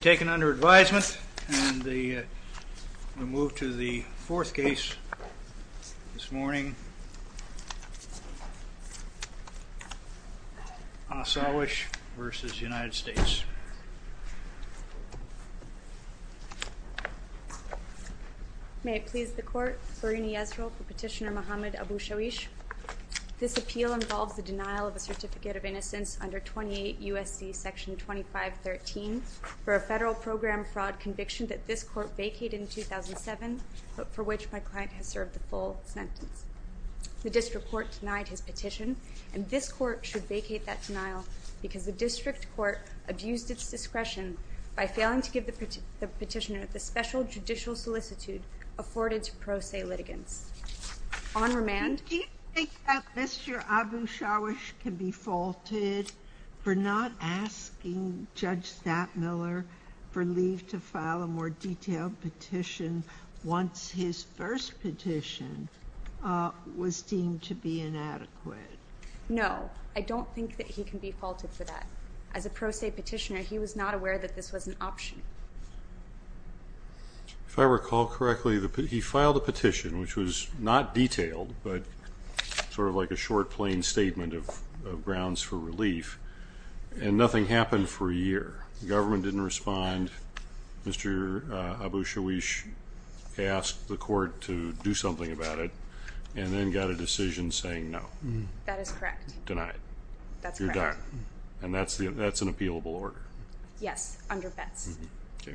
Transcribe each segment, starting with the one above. Taken under advisement and we move to the fourth case this morning, Asawish v. United States. May it please the Court, Farini Yisrael for Petitioner Mhammad Abu-Shawish. This appeal involves the denial of a certificate of innocence under 28 U.S.C. Section 2513 for a federal program fraud conviction that this Court vacated in 2007, but for which my client has served the full sentence. The District Court denied his petition and this Court should vacate that denial because the District Court abused its discretion by failing to give the petitioner the special judicial solicitude afforded to pro se litigants. On remand. Do you think that Mr. Abu-Shawish can be faulted for not asking Judge Stapmiller for leave to file a more detailed petition once his first petition was deemed to be inadequate? No, I don't think that he can be faulted for that. As a pro se petitioner, he was not aware that this was an option. If I recall correctly, he filed a petition, which was not detailed, but sort of like a short, plain statement of grounds for relief, and nothing happened for a year. The government didn't respond. Mr. Abu-Shawish asked the Court to do something about it and then got a decision saying no. That is correct. Denied. That's correct. You're done. And that's an appealable order. Yes, under bets. Sure.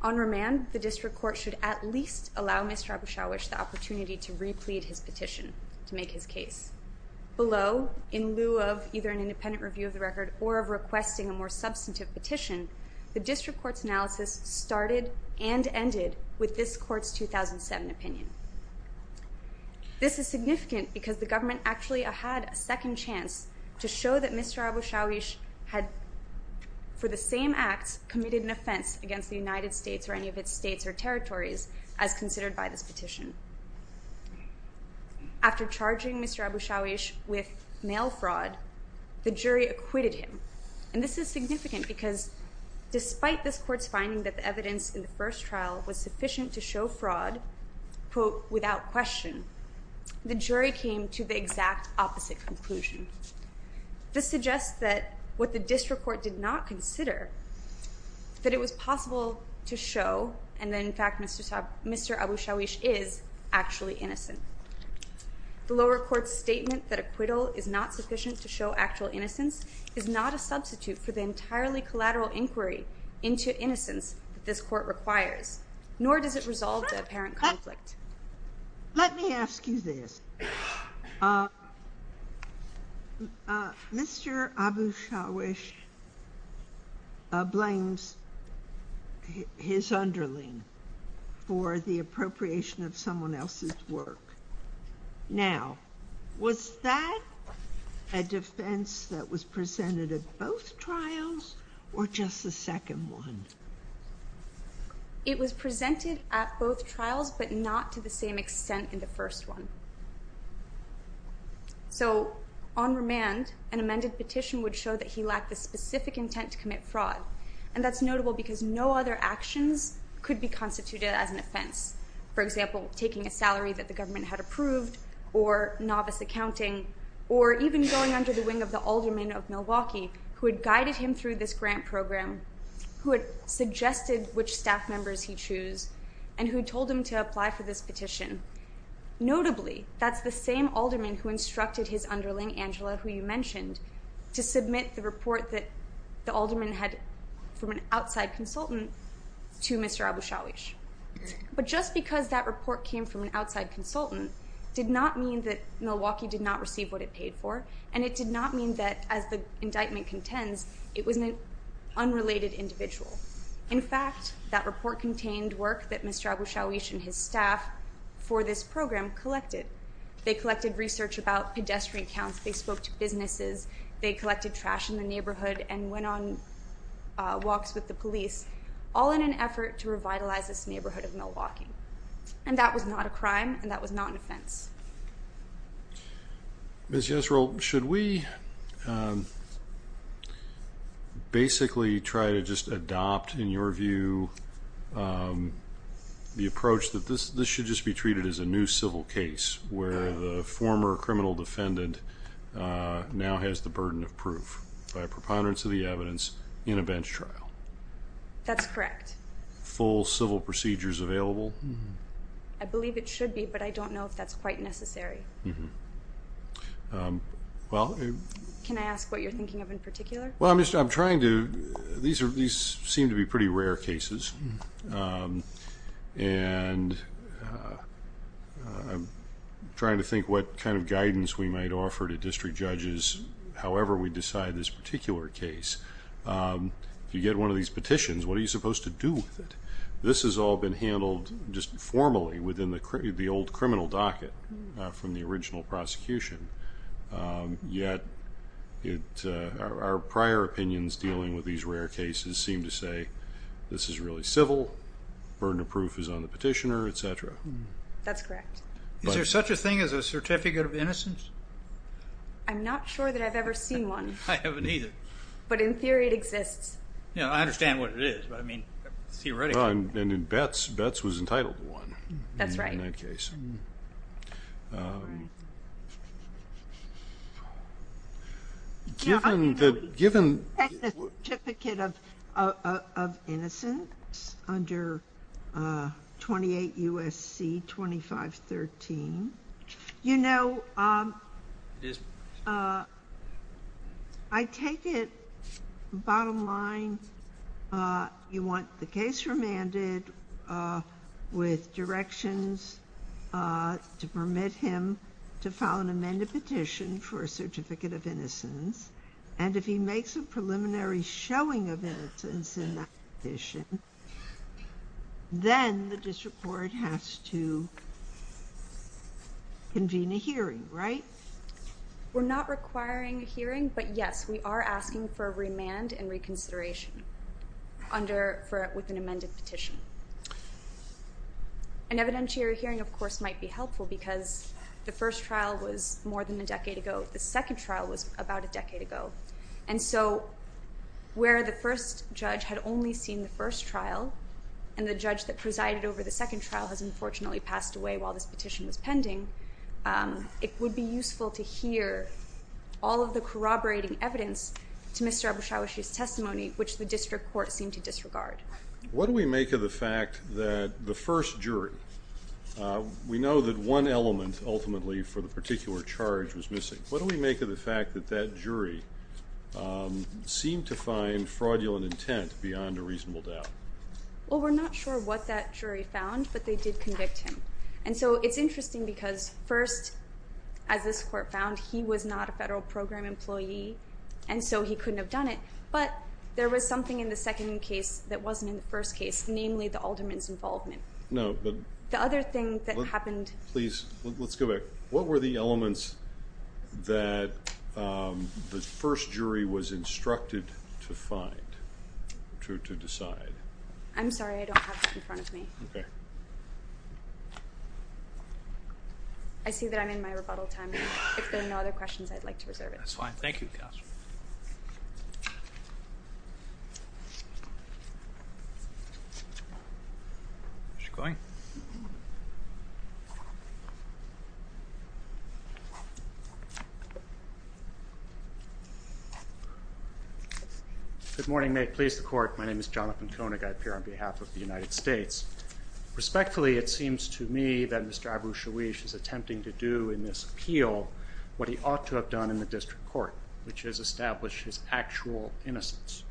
On remand, the District Court should at least allow Mr. Abu-Shawish the opportunity to replete his petition to make his case. Below, in lieu of either an independent review of the record or of requesting a more substantive petition, the District Court's analysis started and ended with this Court's 2007 opinion. This is significant because the government actually had a second chance to show that Mr. Abu-Shawish had, for the same act, committed an offense against the United States or any of its states or territories, as considered by this petition. After charging Mr. Abu-Shawish with mail fraud, the jury acquitted him. And this is significant because despite this Court's finding that the evidence in the first trial was sufficient to show fraud, quote, without question, the jury came to the exact opposite conclusion. This suggests that what the District Court did not consider, that it was possible to show and that, in fact, Mr. Abu-Shawish is actually innocent. The lower court's statement that acquittal is not sufficient to show actual innocence is not a substitute for the entirely collateral inquiry into innocence that this Court requires, nor does it resolve the apparent conflict. Let me ask you this. Mr. Abu-Shawish blames his underling for the appropriation of someone else's work. Now, was that a defense that was presented at both trials or just the second one? It was presented at both trials, but not to the same extent in the first one. So, on remand, an amended petition would show that he lacked the specific intent to commit fraud, and that's notable because no other actions could be constituted as an offense. For example, taking a salary that the government had approved, or novice accounting, or even going under the wing of the alderman of Milwaukee, who had guided him through this grant program, who had suggested which staff members he choose, and who told him to apply for this petition. Notably, that's the same alderman who instructed his underling, Angela, who you mentioned, to submit the report that the alderman had from an outside consultant to Mr. Abu-Shawish. But just because that report came from an outside consultant did not mean that Milwaukee did not receive what it paid for, and it did not mean that, as the indictment contends, it was an unrelated individual. In fact, that report contained work that Mr. Abu-Shawish and his staff for this program collected. They collected research about pedestrian counts, they spoke to businesses, they collected trash in the neighborhood, and went on walks with the police, all in an effort to revitalize this neighborhood of Milwaukee. And that was not a crime, and that was not an offense. Ms. Yesrell, should we basically try to just adopt, in your view, the approach that this should just be treated as a new civil case, where the former criminal defendant now has the burden of proof, by preponderance of the evidence, in a bench trial? That's correct. Full civil procedures available? I believe it should be, but I don't know if that's quite necessary. Can I ask what you're thinking of in particular? These seem to be pretty rare cases, and I'm trying to think what kind of guidance we might offer to district judges, however we decide this particular case. If you get one of these petitions, what are you supposed to do with it? This has all been handled just formally within the old criminal docket from the original prosecution, yet our prior opinions dealing with these rare cases seem to say this is really civil, burden of proof is on the petitioner, etc. That's correct. Is there such a thing as a certificate of innocence? I'm not sure that I've ever seen one. I haven't either. But in theory it exists. I understand what it is, but theoretically... And in Betz, Betz was entitled to one in that case. That's right. Given the... Certificate of innocence under 28 U.S.C. 2513, you know, I take it, bottom line, you want the case remanded with directions to permit him or her to remain in custody. You want him to file an amended petition for a certificate of innocence, and if he makes a preliminary showing of innocence in that petition, then the district court has to convene a hearing, right? We're not requiring a hearing, but yes, we are asking for a remand and reconsideration with an amended petition. An evidentiary hearing, of course, might be helpful because the first trial was more than a decade ago. The second trial was about a decade ago. And so where the first judge had only seen the first trial, and the judge that presided over the second trial has unfortunately passed away while this petition was pending, it would be useful to hear all of the corroborating evidence to Mr. Abushawishi's testimony, which the district court seemed to disregard. What do we make of the fact that the first jury... We know that one element, ultimately, for the particular charge was missing. What do we make of the fact that that jury seemed to find fraudulent intent beyond a reasonable doubt? Well, we're not sure what that jury found, but they did convict him. And so it's interesting because first, as this court found, he was not a federal program employee, and so he couldn't have done it. But there was something in the second case that wasn't in the first case, namely the alderman's involvement. No, but... The other thing that happened... Please, let's go back. What were the elements that the first jury was instructed to find, to decide? I'm sorry, I don't have that in front of me. Okay. I see that I'm in my rebuttal time. If there are no other questions, I'd like to reserve it. That's fine. Thank you, counsel. Is she going? Good morning. May it please the court. My name is Jonathan Koenig. I appear on behalf of the United States. Respectfully, it seems to me that Mr. Abu-Shawish is attempting to do in this appeal what he ought to have done in the district court, which is establish his actual innocence.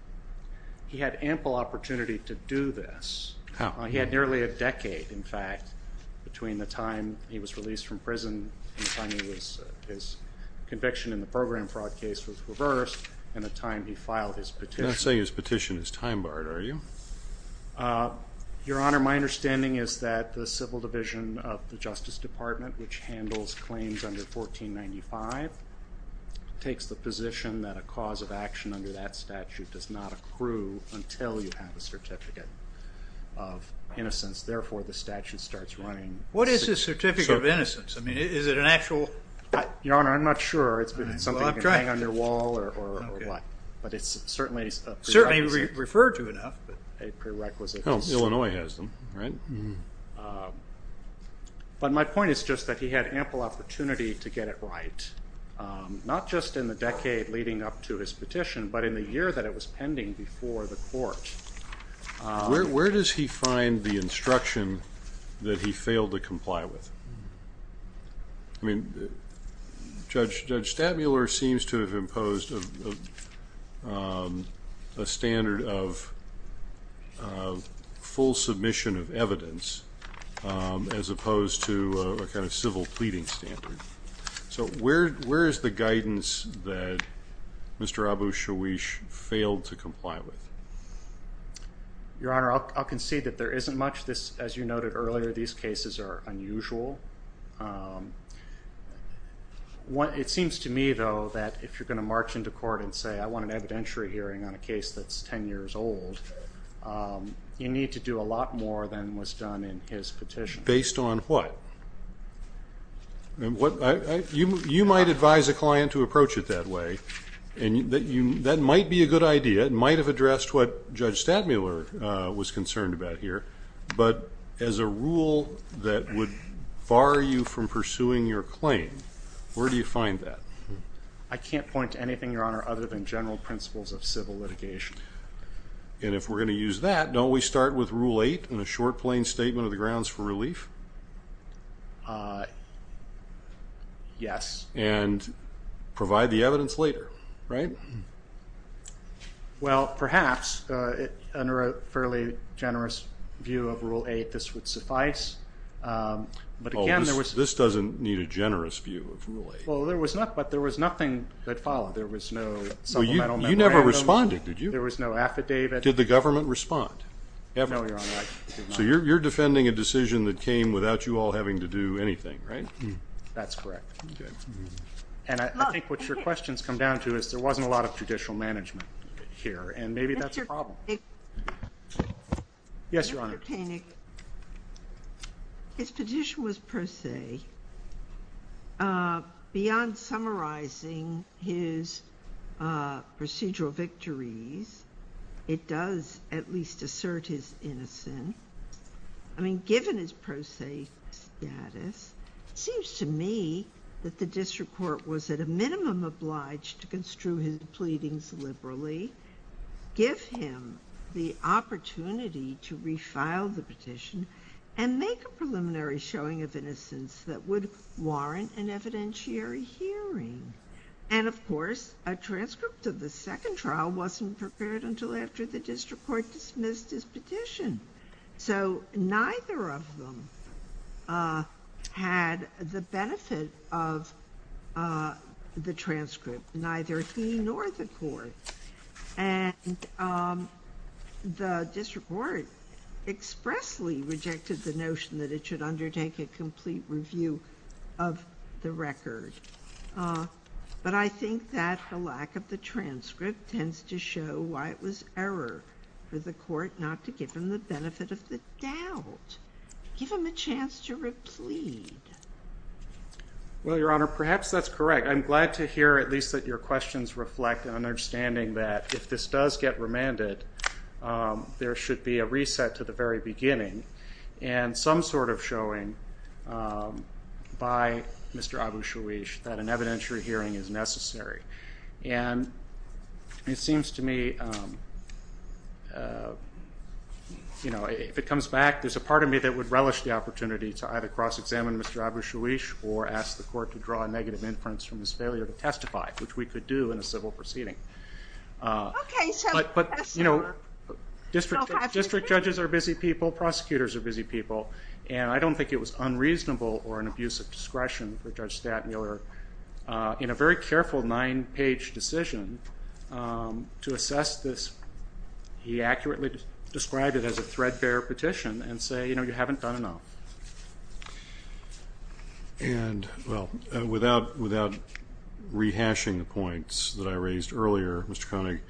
He had ample opportunity to do this. How? He had nearly a decade, in fact, between the time he was released from prison and the time his conviction in the program fraud case was reversed and the time he filed his petition. You're not saying his petition is time-barred, are you? Your Honor, my understanding is that the civil division of the Justice Department, which handles claims under 1495, takes the position that a cause of action under that statute does not accrue until you have a certificate of innocence. Therefore, the statute starts running. What is a certificate of innocence? I mean, is it an actual? Your Honor, I'm not sure. It's something you can hang on your wall or what. But it's certainly a prerequisite. Certainly referred to enough. A prerequisite. Illinois has them, right? But my point is just that he had ample opportunity to get it right, not just in the decade leading up to his petition, but in the year that it was pending before the court. Where does he find the instruction that he failed to comply with? I mean, Judge Statmuller seems to have imposed a standard of full submission of evidence as opposed to a kind of civil pleading standard. So where is the guidance that Mr. Abu-Shawish failed to comply with? Your Honor, I'll concede that there isn't much. As you noted earlier, these cases are unusual. It seems to me, though, that if you're going to march into court and say, I want an evidentiary hearing on a case that's 10 years old, you need to do a lot more than was done in his petition. Based on what? You might advise a client to approach it that way, and that might be a good idea. That might have addressed what Judge Statmuller was concerned about here. But as a rule that would bar you from pursuing your claim, where do you find that? I can't point to anything, Your Honor, other than general principles of civil litigation. And if we're going to use that, don't we start with Rule 8 and a short, plain statement of the grounds for relief? Yes. And provide the evidence later, right? Well, perhaps, under a fairly generous view of Rule 8, this would suffice. This doesn't need a generous view of Rule 8. Well, there was nothing that followed. There was no supplemental memorandum. You never responded, did you? There was no affidavit. Did the government respond? No, Your Honor. So you're defending a decision that came without you all having to do anything, right? That's correct. Okay. And I think what your question's come down to is there wasn't a lot of judicial management here, and maybe that's a problem. Mr. Paynick. Yes, Your Honor. Mr. Paynick, his petition was pro se. Beyond summarizing his procedural victories, it does at least assert his innocence. I mean, given his pro se status, it seems to me that the district court was at a minimum obliged to construe his pleadings liberally, give him the opportunity to refile the petition, and make a preliminary showing of innocence that would warrant an evidentiary hearing. And, of course, a transcript of the second trial wasn't prepared until after the district court dismissed his petition. So neither of them had the benefit of the transcript, neither he nor the court. And the district court expressly rejected the notion that it should undertake a complete review of the record. But I think that the lack of the transcript tends to show why it was error for the court not to give him the benefit of the doubt, give him a chance to replead. Well, Your Honor, perhaps that's correct. I'm glad to hear at least that your questions reflect an understanding that if this does get remanded, there should be a reset to the very beginning and some sort of showing by Mr. Abu-Shawish that an evidentiary hearing is necessary. And it seems to me, you know, if it comes back, there's a part of me that would relish the opportunity to either cross-examine Mr. Abu-Shawish or ask the court to draw a negative inference from his failure to testify, which we could do in a civil proceeding. But, you know, district judges are busy people, prosecutors are busy people, and I don't think it was unreasonable or an abuse of discretion for Judge Stattmiller, in a very careful nine-page decision, to assess this. He accurately described it as a threadbare petition and say, you know, you haven't done enough. And, well, without rehashing the points that I raised earlier, Mr. Koenig,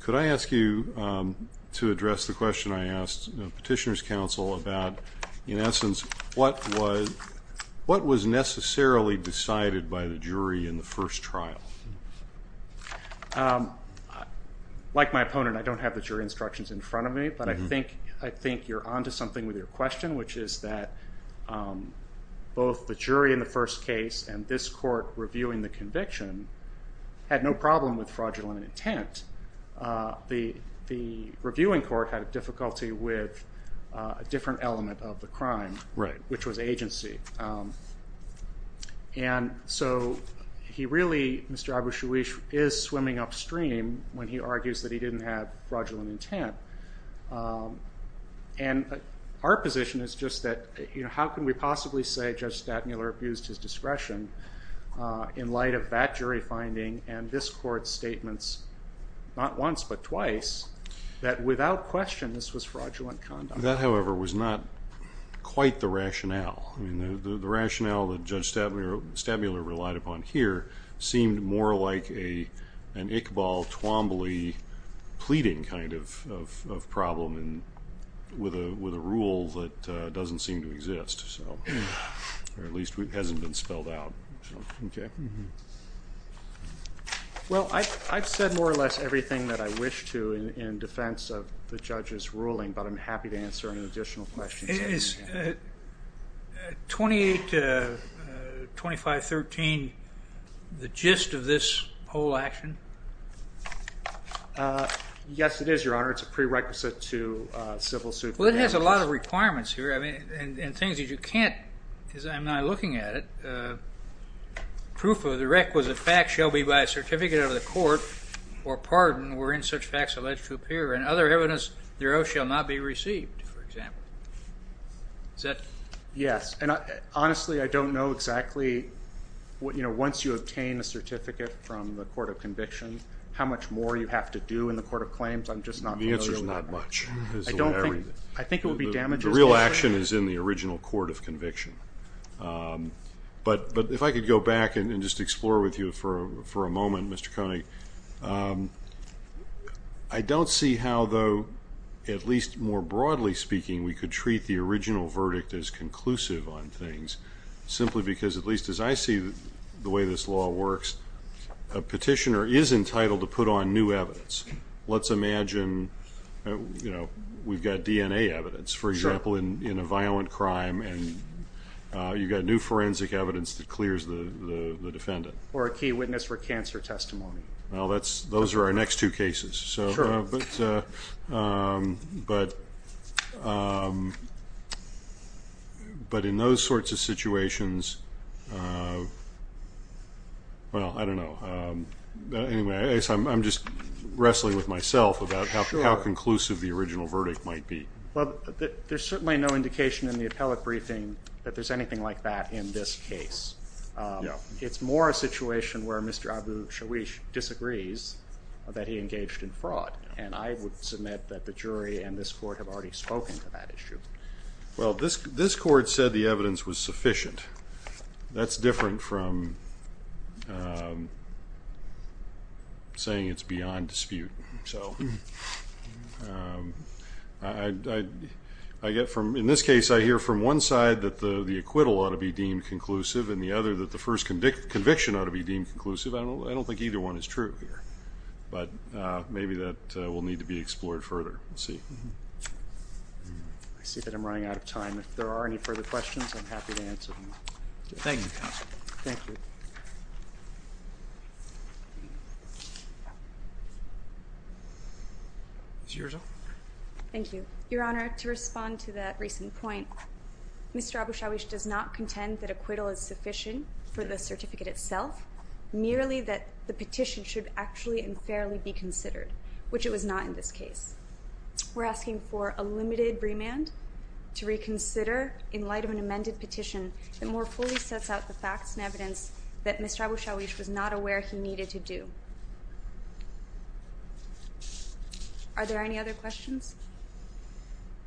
could I ask you to address the question I asked Petitioner's Counsel about, in essence, what was necessarily decided by the jury in the first trial? Like my opponent, I don't have the jury instructions in front of me, but I think you're on to something with your question, which is that both the jury in the first case and this court reviewing the conviction had no problem with fraudulent intent. The reviewing court had difficulty with a different element of the crime, which was agency. And so he really, Mr. Abushawish, is swimming upstream when he argues that he didn't have fraudulent intent. And our position is just that, you know, how can we possibly say Judge Stattmiller abused his discretion in light of that jury finding and this court's statements, not once but twice, that without question this was fraudulent conduct? That, however, was not quite the rationale. The rationale that Judge Stattmiller relied upon here seemed more like an Iqbal Twombly pleading kind of problem with a rule that doesn't seem to exist, or at least hasn't been spelled out. Well, I've said more or less everything that I wish to in defense of the judge's ruling, but I'm happy to answer any additional questions that you may have. Is 28 to 2513 the gist of this whole action? Yes, it is, Your Honor. It's a prerequisite to civil suit. Well, it has a lot of requirements here and things that you can't, because I'm not looking at it. Proof of the requisite fact shall be by a certificate out of the court or pardon were in such facts alleged to appear, and other evidence thereof shall not be received, for example. Is that? Yes. And honestly, I don't know exactly, you know, once you obtain a certificate from the court of conviction, how much more you have to do in the court of claims. I'm just not familiar with that. The answer is not much. I think it would be damages. The real action is in the original court of conviction. But if I could go back and just explore with you for a moment, Mr. Kony, I don't see how, though, at least more broadly speaking, we could treat the original verdict as conclusive on things, simply because at least as I see the way this law works, a petitioner is entitled to put on new evidence. Let's imagine, you know, we've got DNA evidence, for example, in a violent crime, and you've got new forensic evidence that clears the defendant. Or a key witness for cancer testimony. Well, those are our next two cases. Sure. But in those sorts of situations, well, I don't know. Anyway, I'm just wrestling with myself about how conclusive the original verdict might be. Well, there's certainly no indication in the appellate briefing that there's anything like that in this case. It's more a situation where Mr. Abu-Shawish disagrees that he engaged in fraud. And I would submit that the jury and this court have already spoken to that issue. Well, this court said the evidence was sufficient. That's different from saying it's beyond dispute. So in this case, I hear from one side that the acquittal ought to be deemed conclusive and the other that the first conviction ought to be deemed conclusive. I don't think either one is true here. But maybe that will need to be explored further. We'll see. I see that I'm running out of time. If there are any further questions, I'm happy to answer them. Thank you, Counsel. Thank you. Ms. Yurza. Thank you. Your Honor, to respond to that recent point, Mr. Abu-Shawish does not contend that acquittal is sufficient for the certificate itself, merely that the petition should actually and fairly be considered, which it was not in this case. We're asking for a limited remand to reconsider in light of an amended petition that more fully sets out the facts and evidence that Mr. Abu-Shawish was not aware he needed to do. Are there any other questions?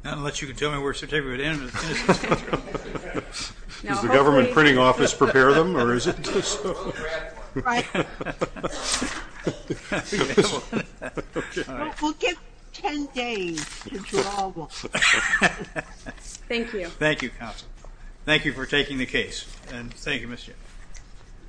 Not unless you can tell me where certificate is. Does the government printing office prepare them or is it just so? We'll give 10 days to draw one. Thank you. Thank you, Counsel. Thank you for taking the case, and thank you, Ms. Yurza.